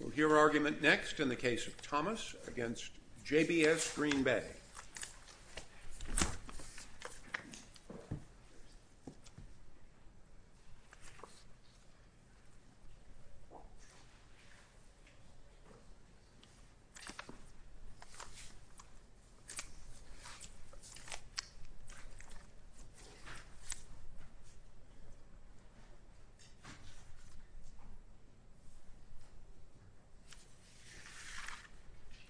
We'll hear argument next in the case of Thomas v. JBS Green Bay.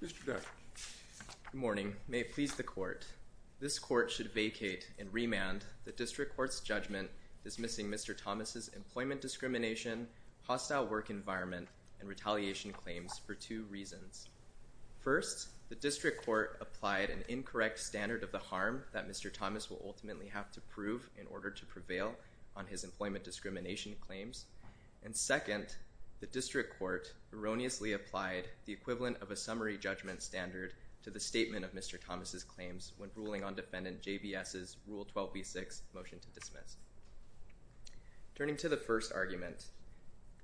Mr. Decker. Good morning. May it please the Court. This Court should vacate and remand the District Court's judgment dismissing Mr. Thomas' employment discrimination, hostile work environment, and retaliation claims for two reasons. First, the District Court applied an incorrect standard of the harm that Mr. Thomas will ultimately have to prove in order to prevail on his employment discrimination claims. And second, the District Court erroneously applied the equivalent of a summary judgment standard to the statement of Mr. Thomas' claims when ruling on Defendant JBS' Rule 12b-6 motion to dismiss. Turning to the first argument,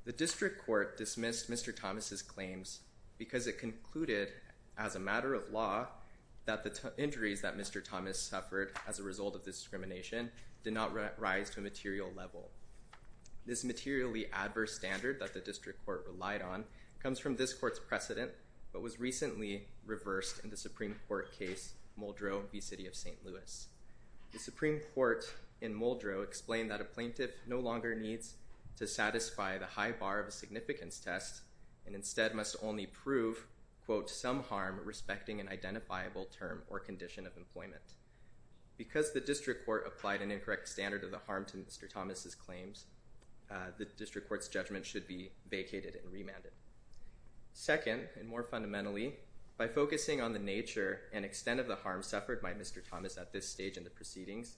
the District Court dismissed Mr. Thomas' claims because it concluded, as a matter of law, that the injuries that Mr. Thomas suffered as a result of this discrimination did not rise to a material level. This materially adverse standard that the District Court relied on comes from this Court's precedent but was recently reversed in the Supreme Court case Muldrow v. City of St. Louis. The Supreme Court in Muldrow explained that a plaintiff no longer needs to satisfy the high bar of a significance test and instead must only prove, quote, some harm respecting an identifiable term or condition of employment. Because the District Court applied an incorrect standard of the harm to Mr. Thomas' claims, the District Court's judgment should be vacated and remanded. Second, and more fundamentally, by focusing on the nature and extent of the harm suffered by Mr. Thomas at this stage in the proceedings,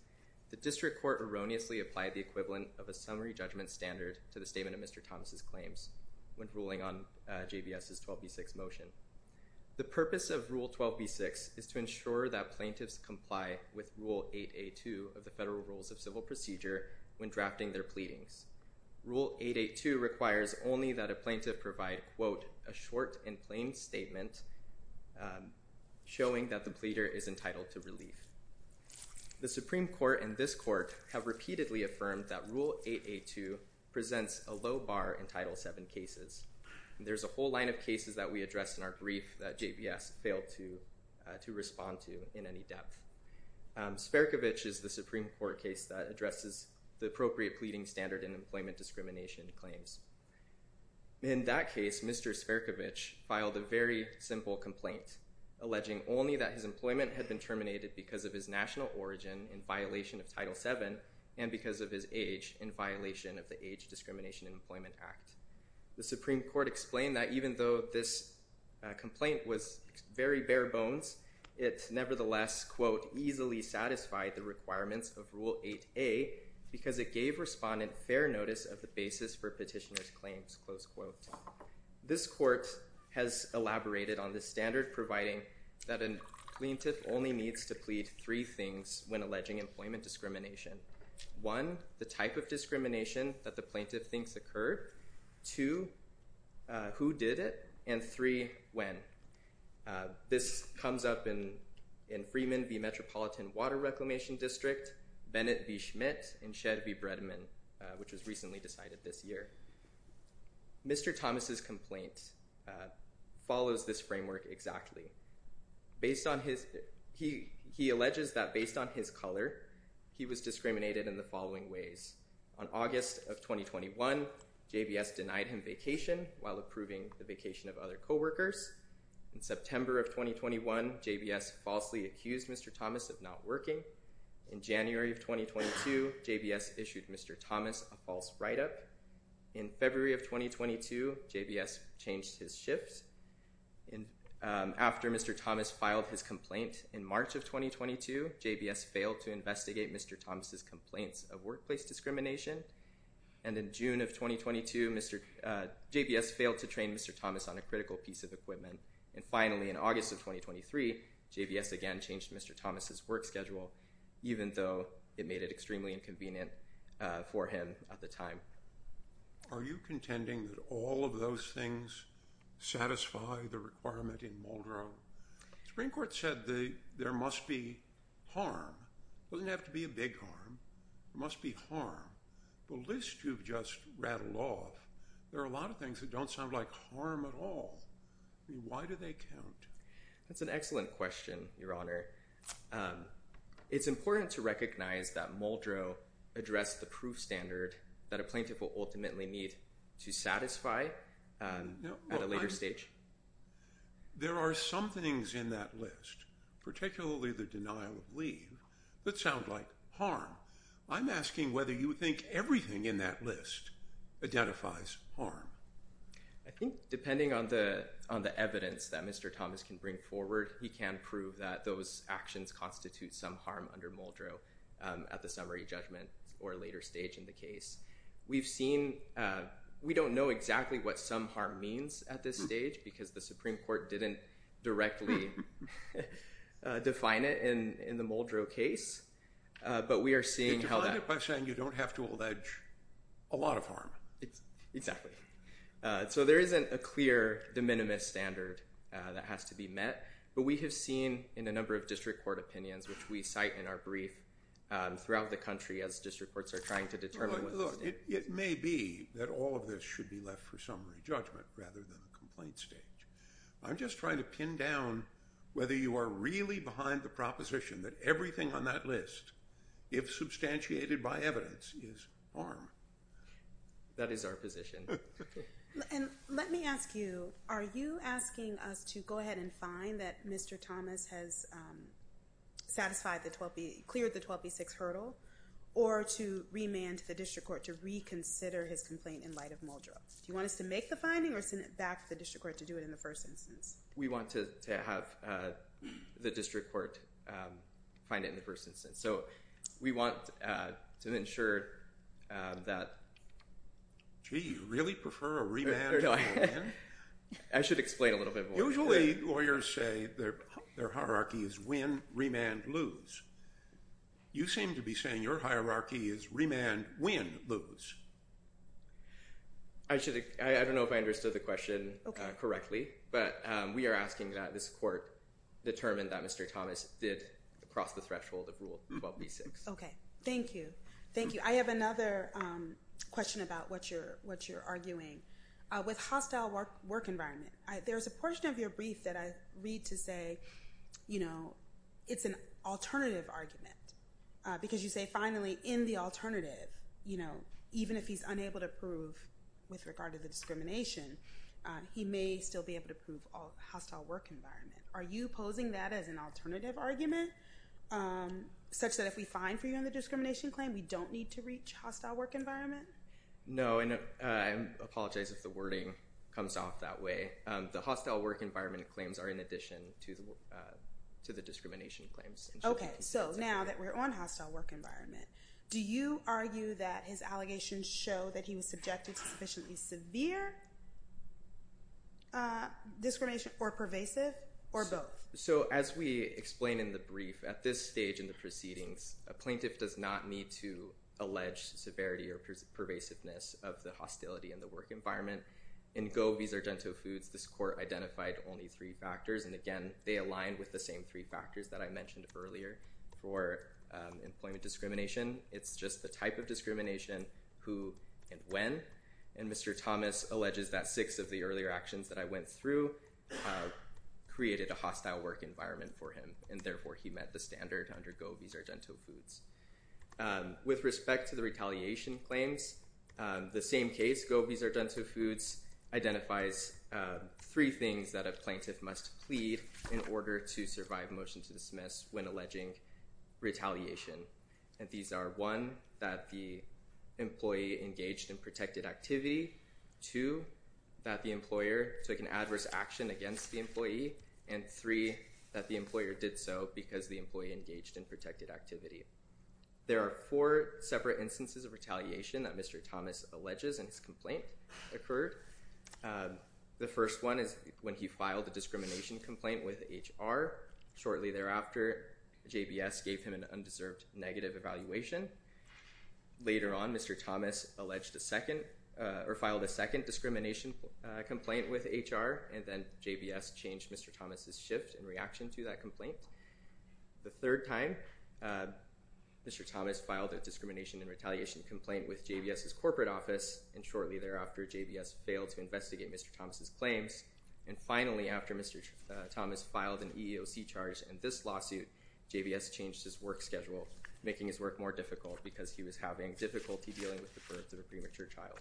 the District Court erroneously applied the equivalent of a summary judgment standard to the statement of Mr. Thomas' claims when ruling on JBS' Rule 12b-6 motion. The purpose of Rule 12b-6 is to ensure that plaintiffs comply with Rule 8a-2 of the Federal Rules of Civil Procedure when drafting their pleadings. Rule 8a-2 requires only that a plaintiff provide, quote, a short and plain statement showing that the pleader is entitled to relief. The Supreme Court and this Court have repeatedly affirmed that Rule 8a-2 presents a low bar in Title VII cases. There's a whole line of cases that we addressed in our brief that JBS failed to respond to in any depth. Sperkovich is the Supreme Court case that addresses the appropriate pleading standard in employment discrimination claims. In that case, Mr. Sperkovich filed a very simple complaint alleging only that his employment had been terminated because of his national origin in violation of Title VII and because of his age in violation of the Age Discrimination in Employment Act. The Supreme Court explained that even though this complaint was very bare bones, it nevertheless, quote, easily satisfied the requirements of Rule 8a because it gave respondent fair notice of the basis for petitioner's claims, close quote. This Court has elaborated on this standard providing that a plaintiff only needs to plead three things when alleging employment discrimination. One, the type of discrimination that the plaintiff thinks occurred. Two, who did it. And three, when. This comes up in Freeman v. Metropolitan Water Reclamation District, Bennett v. Schmidt, and Shedd v. Bredman, which was recently decided this year. Mr. Thomas' complaint follows this framework exactly. He alleges that based on his color, he was discriminated in the following ways. On August of 2021, JBS denied him vacation while approving the vacation of other coworkers. In September of 2021, JBS falsely accused Mr. Thomas of not working. In January of 2022, JBS issued Mr. Thomas a false write-up. In February of 2022, JBS changed his shifts. After Mr. Thomas filed his complaint in March of 2022, JBS failed to investigate Mr. Thomas' complaints of workplace discrimination. And in June of 2022, JBS failed to train Mr. Thomas on a critical piece of equipment. And finally, in August of 2023, JBS again changed Mr. Thomas' work schedule, even though it made it extremely inconvenient for him at the time. Are you contending that all of those things satisfy the requirement in Muldrow? The Supreme Court said there must be harm. It doesn't have to be a big harm. There must be harm. The list you've just rattled off, there are a lot of things that don't sound like harm at all. Why do they count? That's an excellent question, Your Honor. It's important to recognize that Muldrow addressed the proof standard that a plaintiff will ultimately need to satisfy at a later stage. There are some things in that list, particularly the denial of leave, that sound like harm. I'm asking whether you think everything in that list identifies harm. I think depending on the evidence that Mr. Thomas can bring forward, he can prove that those actions constitute some harm under Muldrow at the summary judgment or later stage in the case. We don't know exactly what some harm means at this stage because the Supreme Court didn't directly define it in the Muldrow case. You defined it by saying you don't have to allege a lot of harm. Exactly. There isn't a clear de minimis standard that has to be met, but we have seen in a number of district court opinions, which we cite in our brief, throughout the country as district courts are trying to determine what those standards are. It may be that all of this should be left for summary judgment rather than a complaint stage. I'm just trying to pin down whether you are really behind the proposition that everything on that list, if substantiated by evidence, is harm. That is our position. Let me ask you, are you asking us to go ahead and find that Mr. Thomas has cleared the 12B6 hurdle or to remand to the district court to reconsider his complaint in light of Muldrow? Do you want us to make the finding or send it back to the district court to do it in the first instance? We want to have the district court find it in the first instance. We want to ensure that… Gee, you really prefer a remand to a remand? I should explain a little bit more. Usually lawyers say their hierarchy is win, remand, lose. You seem to be saying your hierarchy is remand, win, lose. I don't know if I understood the question correctly, but we are asking that this court determine that Mr. Thomas did cross the threshold of Rule 12B6. Okay. Thank you. Thank you. I have another question about what you're arguing. With hostile work environment, there's a portion of your brief that I read to say it's an alternative argument. Because you say, finally, in the alternative, even if he's unable to prove with regard to the discrimination, he may still be able to prove hostile work environment. Are you posing that as an alternative argument such that if we find for you in the discrimination claim, we don't need to reach hostile work environment? No, and I apologize if the wording comes off that way. The hostile work environment claims are in addition to the discrimination claims. Okay, so now that we're on hostile work environment, do you argue that his allegations show that he was subjected to sufficiently severe discrimination or pervasive or both? So as we explain in the brief, at this stage in the proceedings, a plaintiff does not need to allege severity or pervasiveness of the hostility in the work environment. In Go Vis Argento Foods, this court identified only three factors. And again, they align with the same three factors that I mentioned earlier for employment discrimination. It's just the type of discrimination, who and when. And Mr. Thomas alleges that six of the earlier actions that I went through created a hostile work environment for him. And therefore, he met the standard under Go Vis Argento Foods. With respect to the retaliation claims, the same case, Go Vis Argento Foods, identifies three things that a plaintiff must plead in order to survive motion to dismiss when alleging retaliation. And these are one, that the employee engaged in protected activity. Two, that the employer took an adverse action against the employee. And three, that the employer did so because the employee engaged in protected activity. There are four separate instances of retaliation that Mr. Thomas alleges in his complaint occurred. The first one is when he filed a discrimination complaint with HR. Shortly thereafter, JBS gave him an undeserved negative evaluation. Later on, Mr. Thomas filed a second discrimination complaint with HR. And then JBS changed Mr. Thomas' shift in reaction to that complaint. The third time, Mr. Thomas filed a discrimination and retaliation complaint with JBS' corporate office. And shortly thereafter, JBS failed to investigate Mr. Thomas' claims. And finally, after Mr. Thomas filed an EEOC charge in this lawsuit, JBS changed his work schedule, making his work more difficult because he was having difficulty dealing with the birth of a premature child.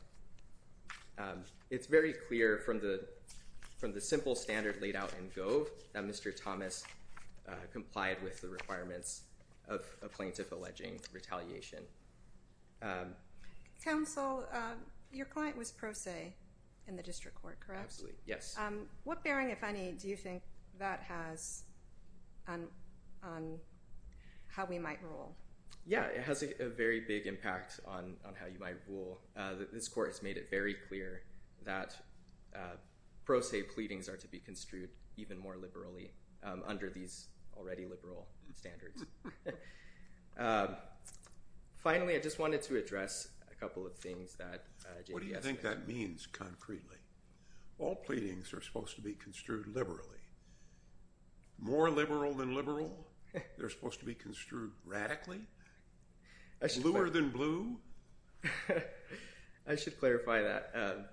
It's very clear from the simple standard laid out in Go that Mr. Thomas complied with the requirements of a plaintiff alleging retaliation. Counsel, your client was pro se in the district court, correct? Absolutely, yes. What bearing, if any, do you think that has on how we might rule? Yeah, it has a very big impact on how you might rule. This court has made it very clear that pro se pleadings are to be construed even more liberally under these already liberal standards. Finally, I just wanted to address a couple of things that JBS— What do you think that means concretely? All pleadings are supposed to be construed liberally. More liberal than liberal? They're supposed to be construed radically? Bluer than blue? I should clarify that.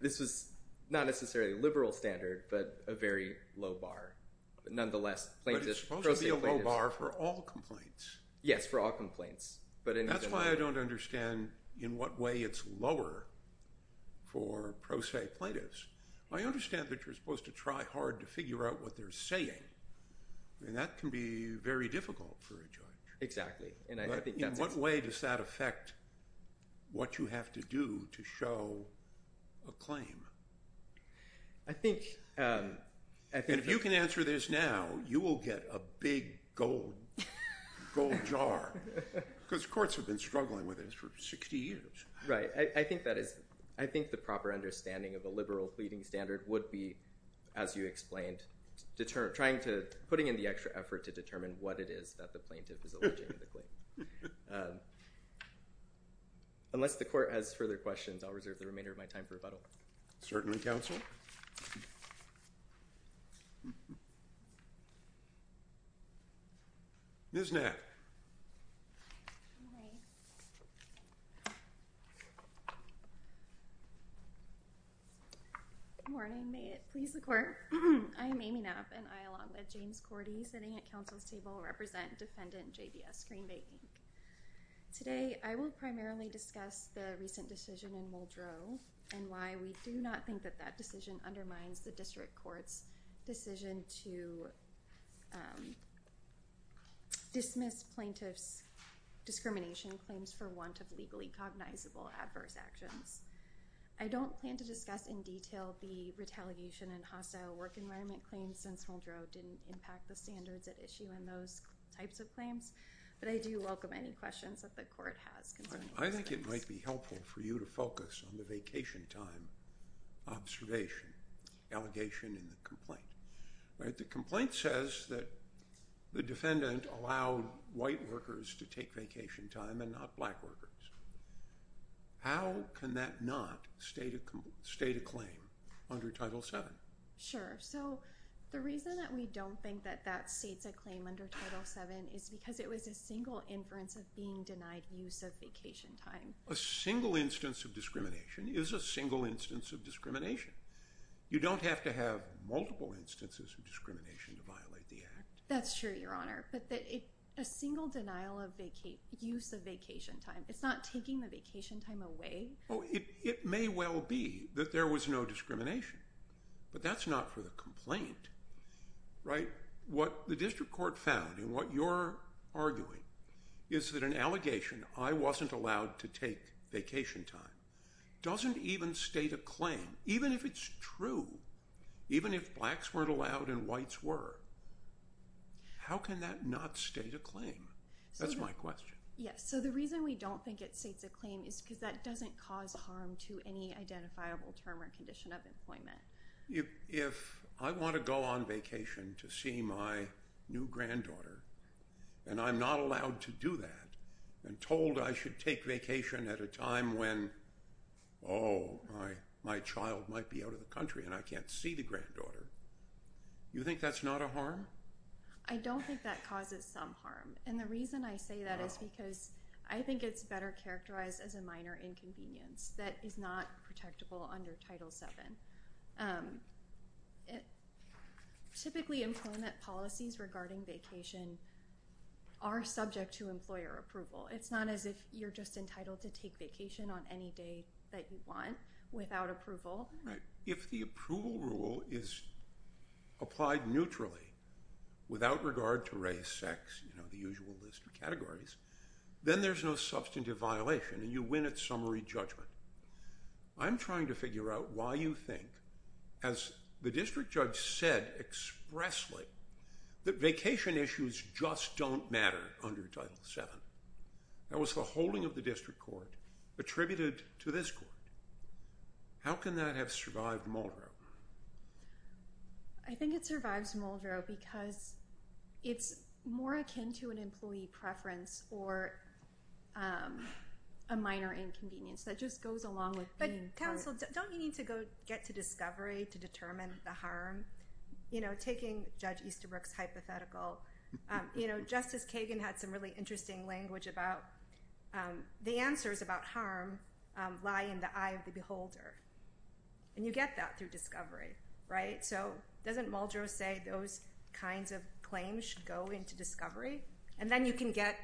This was not necessarily a liberal standard, but a very low bar. Nonetheless, plaintiffs— It's supposed to be a low bar for all complaints. Yes, for all complaints. That's why I don't understand in what way it's lower for pro se plaintiffs. I understand that you're supposed to try hard to figure out what they're saying, and that can be very difficult for a judge. Exactly. In what way does that affect what you have to do to show a claim? I think— And if you can answer this now, you will get a big gold jar, because courts have been struggling with this for 60 years. Right. I think that is—I think the proper understanding of a liberal pleading standard would be, as you explained, putting in the extra effort to determine what it is that the plaintiff is alleging in the claim. Unless the court has further questions, I'll reserve the remainder of my time for rebuttal. Certainly, counsel. Ms. Knapp. Good morning. May it please the court. I am Amy Knapp, and I, along with James Cordy, sitting at counsel's table, represent defendant JDS Green Bay Inc. Today, I will primarily discuss the recent decision in Muldrow, and why we do not think that that decision undermines the district court's decision to dismiss plaintiffs' discrimination claims for want of legally cognizable adverse actions. I don't plan to discuss in detail the retaliation and hostile work environment claims since Muldrow didn't impact the standards at issue in those types of claims, but I do welcome any questions that the court has concerning these claims. I think it might be helpful for you to focus on the vacation time observation, allegation in the complaint. The complaint says that the defendant allowed white workers to take vacation time and not black workers. How can that not state a claim under Title VII? Sure. So, the reason that we don't think that that states a claim under Title VII is because it was a single inference of being denied use of vacation time. A single instance of discrimination is a single instance of discrimination. You don't have to have multiple instances of discrimination to violate the act. That's true, Your Honor. But a single denial of use of vacation time, it's not taking the vacation time away? It may well be that there was no discrimination, but that's not for the complaint, right? What the district court found and what you're arguing is that an allegation, I wasn't allowed to take vacation time, doesn't even state a claim, even if it's true, even if blacks weren't allowed and whites were. How can that not state a claim? That's my question. Yes. So, the reason we don't think it states a claim is because that doesn't cause harm to any identifiable term or condition of employment. If I want to go on vacation to see my new granddaughter and I'm not allowed to do that and told I should take vacation at a time when, oh, my child might be out of the country and I can't see the granddaughter, you think that's not a harm? I don't think that causes some harm. And the reason I say that is because I think it's better characterized as a minor inconvenience that is not protectable under Title VII. Typically, employment policies regarding vacation are subject to employer approval. It's not as if you're just entitled to take vacation on any day that you want without approval. If the approval rule is applied neutrally without regard to race, sex, you know, the usual list of categories, then there's no substantive violation and you win at summary judgment. I'm trying to figure out why you think, as the district judge said expressly, that vacation issues just don't matter under Title VII. That was the holding of the district court attributed to this court. How can that have survived Muldrow? I think it survives Muldrow because it's more akin to an employee preference or a minor inconvenience. That just goes along with being- But, counsel, don't you need to go get to discovery to determine the harm? You know, taking Judge Easterbrook's hypothetical, you know, Justice Kagan had some really interesting language about the answers about harm lie in the eye of the beholder. And you get that through discovery, right? So doesn't Muldrow say those kinds of claims should go into discovery? And then you can get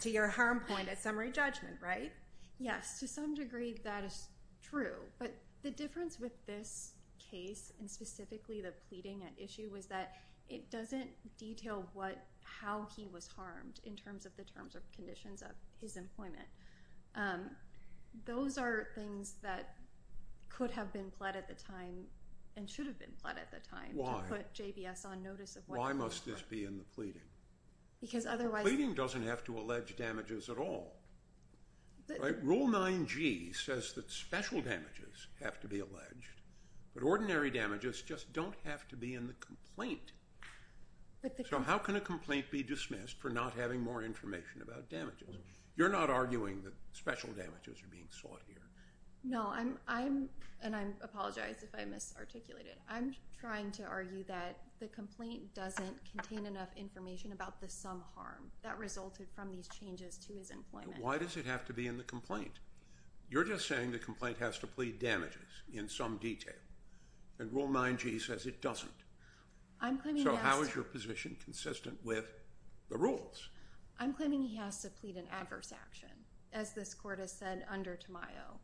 to your harm point at summary judgment, right? Yes, to some degree that is true. But the difference with this case, and specifically the pleading at issue, is that it doesn't detail how he was harmed in terms of the terms or conditions of his employment. Those are things that could have been pled at the time and should have been pled at the time. Why? To put JBS on notice of what- Why must this be in the pleading? Because otherwise- The pleading doesn't have to allege damages at all. Rule 9G says that special damages have to be alleged, but ordinary damages just don't have to be in the complaint. So how can a complaint be dismissed for not having more information about damages? You're not arguing that special damages are being sought here. No, I'm- and I apologize if I misarticulated. I'm trying to argue that the complaint doesn't contain enough information about the sum harm that resulted from these changes to his employment. But why does it have to be in the complaint? You're just saying the complaint has to plead damages in some detail. And Rule 9G says it doesn't. I'm claiming- So how is your position consistent with the rules? I'm claiming he has to plead an adverse action. As this court has said under Tamayo,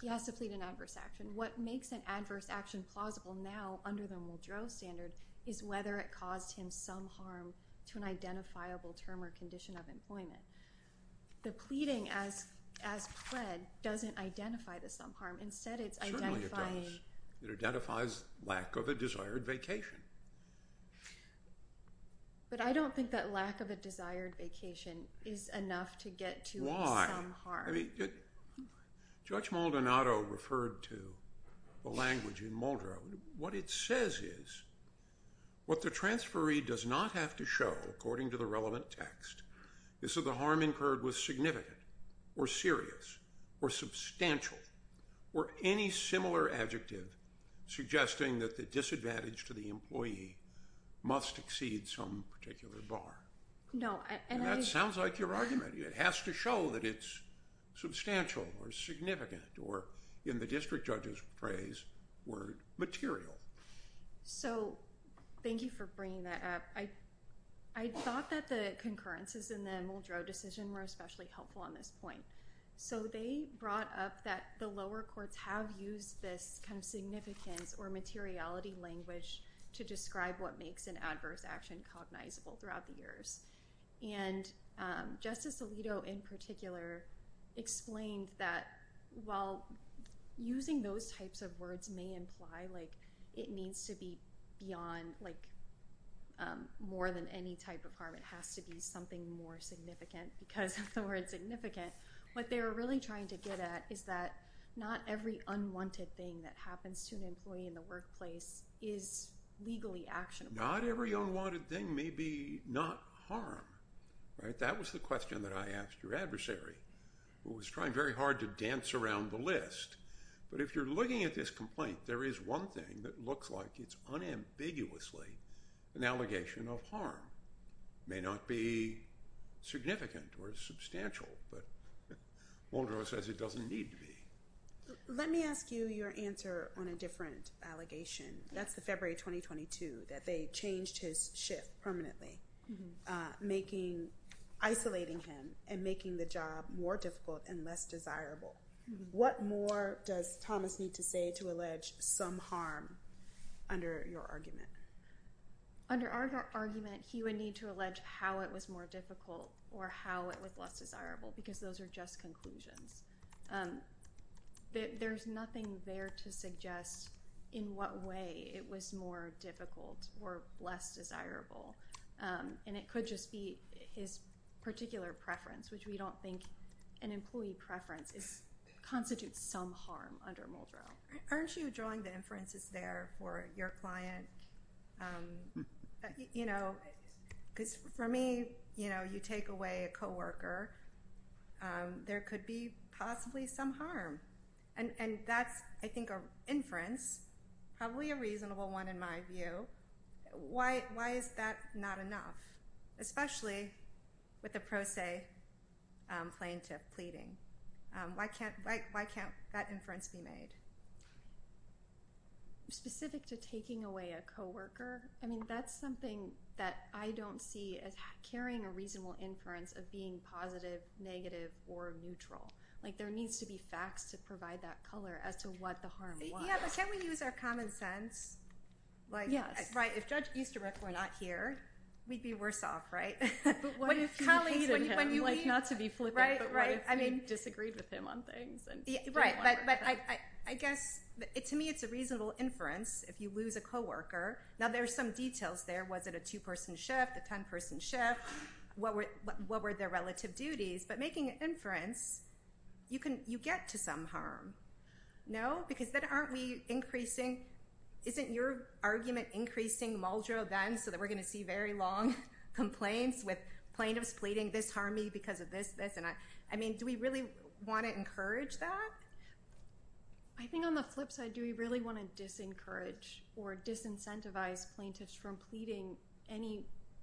he has to plead an adverse action. What makes an adverse action plausible now under the Muldrow standard is whether it caused him some harm to an identifiable term or condition of employment. The pleading as pled doesn't identify the sum harm. Instead, it's identifying- Certainly it does. It identifies lack of a desired vacation. But I don't think that lack of a desired vacation is enough to get to a sum harm. Judge Maldonado referred to the language in Muldrow. What it says is what the transferee does not have to show, according to the relevant text, is that the harm incurred was significant or serious or substantial or any similar adjective suggesting that the disadvantage to the employee must exceed some particular bar. No, and I- It has to show that it's substantial or significant or, in the district judge's phrase, word material. So thank you for bringing that up. I thought that the concurrences in the Muldrow decision were especially helpful on this point. So they brought up that the lower courts have used this kind of significance or materiality language to describe what makes an adverse action cognizable throughout the years. And Justice Alito, in particular, explained that while using those types of words may imply, like, it needs to be beyond, like, more than any type of harm. It has to be something more significant because of the word significant. What they were really trying to get at is that not every unwanted thing that happens to an employee in the workplace is legally actionable. Not every unwanted thing may be not harm, right? That was the question that I asked your adversary, who was trying very hard to dance around the list. But if you're looking at this complaint, there is one thing that looks like it's unambiguously an allegation of harm. It may not be significant or substantial, but Muldrow says it doesn't need to be. Let me ask you your answer on a different allegation. That's the February 2022, that they changed his shift permanently, isolating him and making the job more difficult and less desirable. What more does Thomas need to say to allege some harm under your argument? Under our argument, he would need to allege how it was more difficult or how it was less desirable because those are just conclusions. There's nothing there to suggest in what way it was more difficult or less desirable. And it could just be his particular preference, which we don't think an employee preference constitutes some harm under Muldrow. Aren't you drawing the inferences there for your client? You know, because for me, you know, you take away a co-worker. There could be possibly some harm. And that's, I think, an inference, probably a reasonable one in my view. Why is that not enough, especially with the pro se plaintiff pleading? Why can't that inference be made? Specific to taking away a co-worker? I mean, that's something that I don't see as carrying a reasonable inference of being positive, negative, or neutral. Like, there needs to be facts to provide that color as to what the harm was. Yeah, but can't we use our common sense? Yes. Right. If Judge Easterbrook were not here, we'd be worse off, right? Not to be flippant, but what if we disagreed with him on things? But I guess, to me, it's a reasonable inference if you lose a co-worker. Now, there are some details there. Was it a two-person shift, a 10-person shift? What were their relative duties? But making an inference, you get to some harm. Isn't your argument increasing Muldrow then so that we're going to see very long complaints with plaintiffs pleading, this harmed me because of this, this, and that? I mean, do we really want to encourage that? I think on the flip side, do we really want to disencourage or disincentivize plaintiffs from pleading any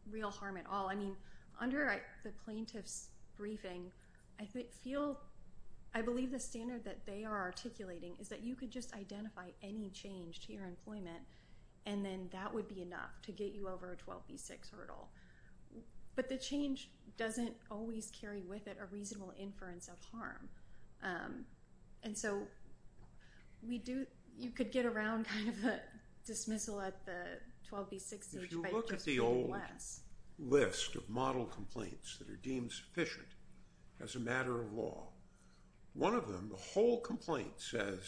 real harm at all? I mean, under the plaintiff's briefing, I believe the standard that they are articulating is that you could just identify any change to your employment, and then that would be enough to get you over a 12B6 hurdle. But the change doesn't always carry with it a reasonable inference of harm. And so, you could get around kind of a dismissal at the 12B6 stage by just doing less. There's a whole list of model complaints that are deemed sufficient as a matter of law. One of them, the whole complaint says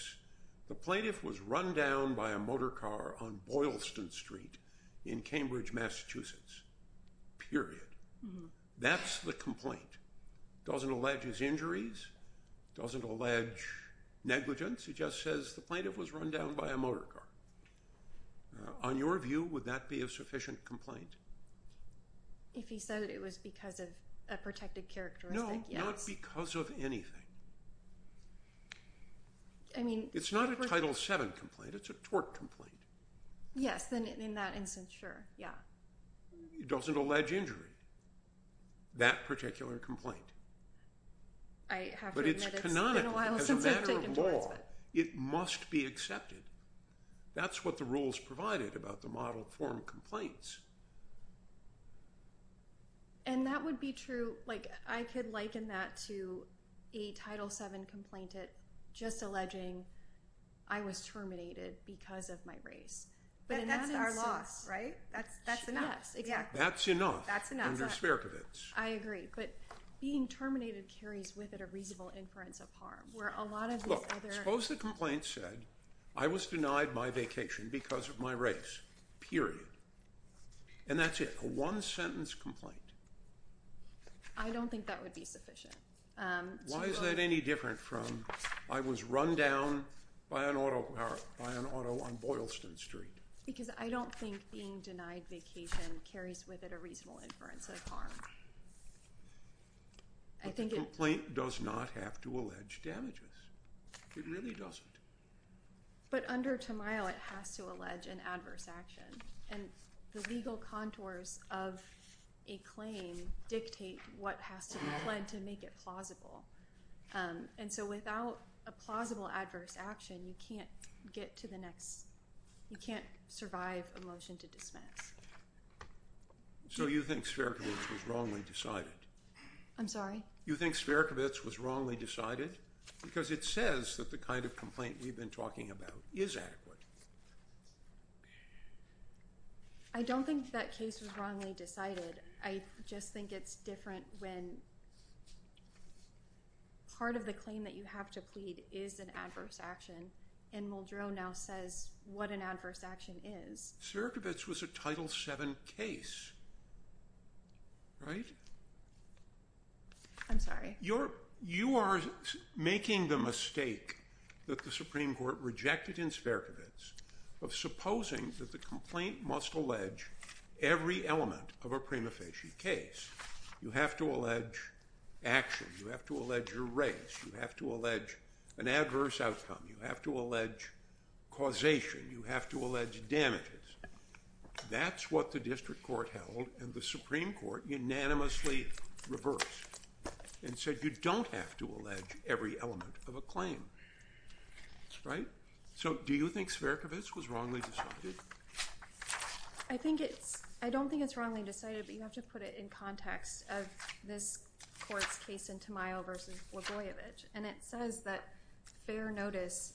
the plaintiff was run down by a motor car on Boylston Street in Cambridge, Massachusetts, period. That's the complaint. It doesn't allege his injuries. It doesn't allege negligence. It just says the plaintiff was run down by a motor car. On your view, would that be a sufficient complaint? If he said it was because of a protected characteristic, yes. No, not because of anything. It's not a Title VII complaint. It's a tort complaint. Yes, in that instance, sure. Yeah. It doesn't allege injury. That particular complaint. I have to admit it's been a while since I've taken to it. But it's canonical. It's a matter of law. It must be accepted. That's what the rules provided about the model form complaints. And that would be true. I could liken that to a Title VII complaint just alleging I was terminated because of my race. That's our loss, right? That's enough. That's enough under Sperkovitz. I agree. But being terminated carries with it a reasonable inference of harm. Suppose the complaint said I was denied my vacation because of my race, period. And that's it. A one-sentence complaint. I don't think that would be sufficient. Why is that any different from I was run down by an auto on Boylston Street? Because I don't think being denied vacation carries with it a reasonable inference of harm. But the complaint does not have to allege damages. It really doesn't. But under Tamayo it has to allege an adverse action. And the legal contours of a claim dictate what has to be pledged to make it plausible. And so without a plausible adverse action, you can't survive a motion to dismiss. So you think Sperkovitz was wrongly decided? I'm sorry? You think Sperkovitz was wrongly decided? Because it says that the kind of complaint we've been talking about is adequate. I don't think that case was wrongly decided. I just think it's different when part of the claim that you have to plead is an adverse action. And Muldrow now says what an adverse action is. Sperkovitz was a Title VII case, right? I'm sorry? You are making the mistake that the Supreme Court rejected in Sperkovitz of supposing that the complaint must allege every element of a prima facie case. You have to allege action. You have to allege a race. You have to allege an adverse outcome. You have to allege causation. You have to allege damages. That's what the District Court held and the Supreme Court unanimously reversed. And said you don't have to allege every element of a claim. Right? So do you think Sperkovitz was wrongly decided? I think it's, I don't think it's wrongly decided, but you have to put it in context of this court's case in Tamayo v. Loboyevich. And it says that fair notice,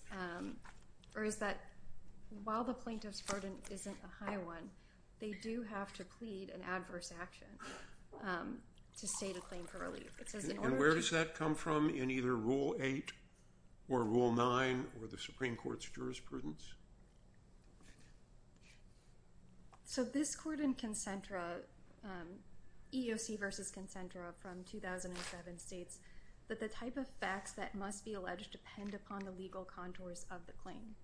or is that while the plaintiff's burden isn't a high one, they do have to plead an adverse action to state a claim for relief. And where does that come from in either Rule 8 or Rule 9 or the Supreme Court's jurisprudence? So this court in Concentra, EOC v. Concentra from 2007, states that the type of facts that must be alleged depend upon the legal contours of the claim.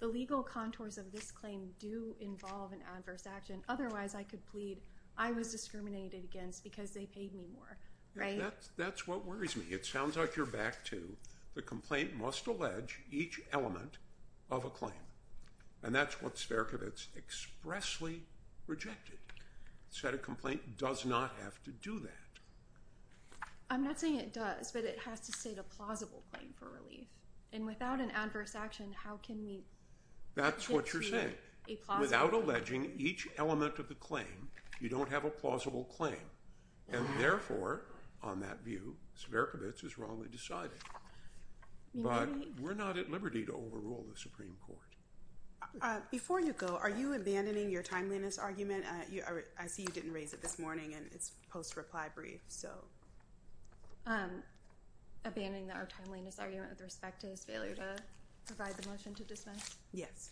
The legal contours of this claim do involve an adverse action. Otherwise, I could plead I was discriminated against because they paid me more. Right? That's what worries me. It sounds like you're back to the complaint must allege each element of a claim. And that's what Sperkovitz expressly rejected. Said a complaint does not have to do that. I'm not saying it does, but it has to state a plausible claim for relief. And without an adverse action, how can we... That's what you're saying. Without alleging each element of the claim, you don't have a plausible claim. And therefore, on that view, Sperkovitz is wrongly decided. But we're not at liberty to overrule the Supreme Court. Before you go, are you abandoning your timeliness argument? I see you didn't raise it this morning and it's post-reply brief, so... Abandoning our timeliness argument with respect to his failure to provide the motion to dismiss? Yes.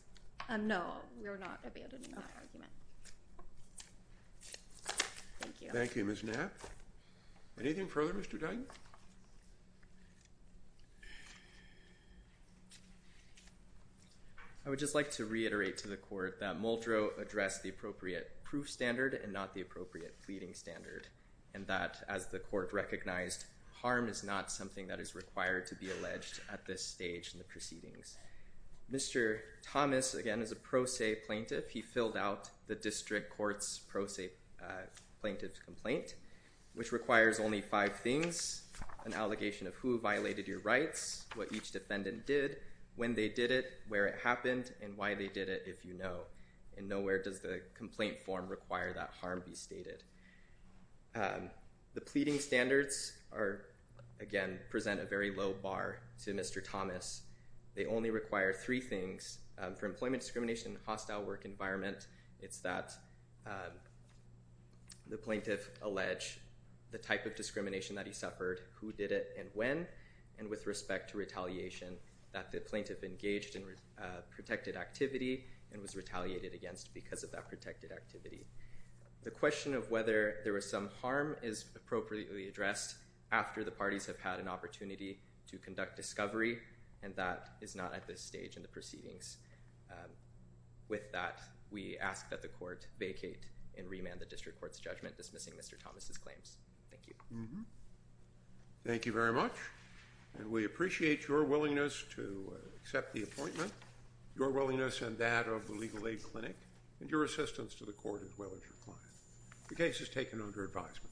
No, we're not abandoning that argument. Thank you. Thank you, Ms. Knapp. Anything further, Mr. Duggan? I would just like to reiterate to the court that Muldrow addressed the appropriate proof standard and not the appropriate pleading standard. And that, as the court recognized, harm is not something that is required to be alleged at this stage in the proceedings. Mr. Thomas, again, is a pro se plaintiff. He filled out the district court's pro se plaintiff's complaint, which requires only five things. An allegation of who violated your rights, what each defendant did, when they did it, where it happened, and why they did it, if you know. And nowhere does the complaint form require that harm be stated. The pleading standards are, again, present a very low bar to Mr. Thomas. They only require three things. For employment discrimination in a hostile work environment, it's that the plaintiff allege the type of discrimination that he suffered, who did it, and when. And with respect to retaliation, that the plaintiff engaged in protected activity and was retaliated against because of that protected activity. The question of whether there was some harm is appropriately addressed after the parties have had an opportunity to conduct discovery. And that is not at this stage in the proceedings. With that, we ask that the court vacate and remand the district court's judgment dismissing Mr. Thomas' claims. Thank you. Thank you very much. And we appreciate your willingness to accept the appointment, your willingness and that of the Legal Aid Clinic, and your assistance to the court as well as your client. The case is taken under advisement.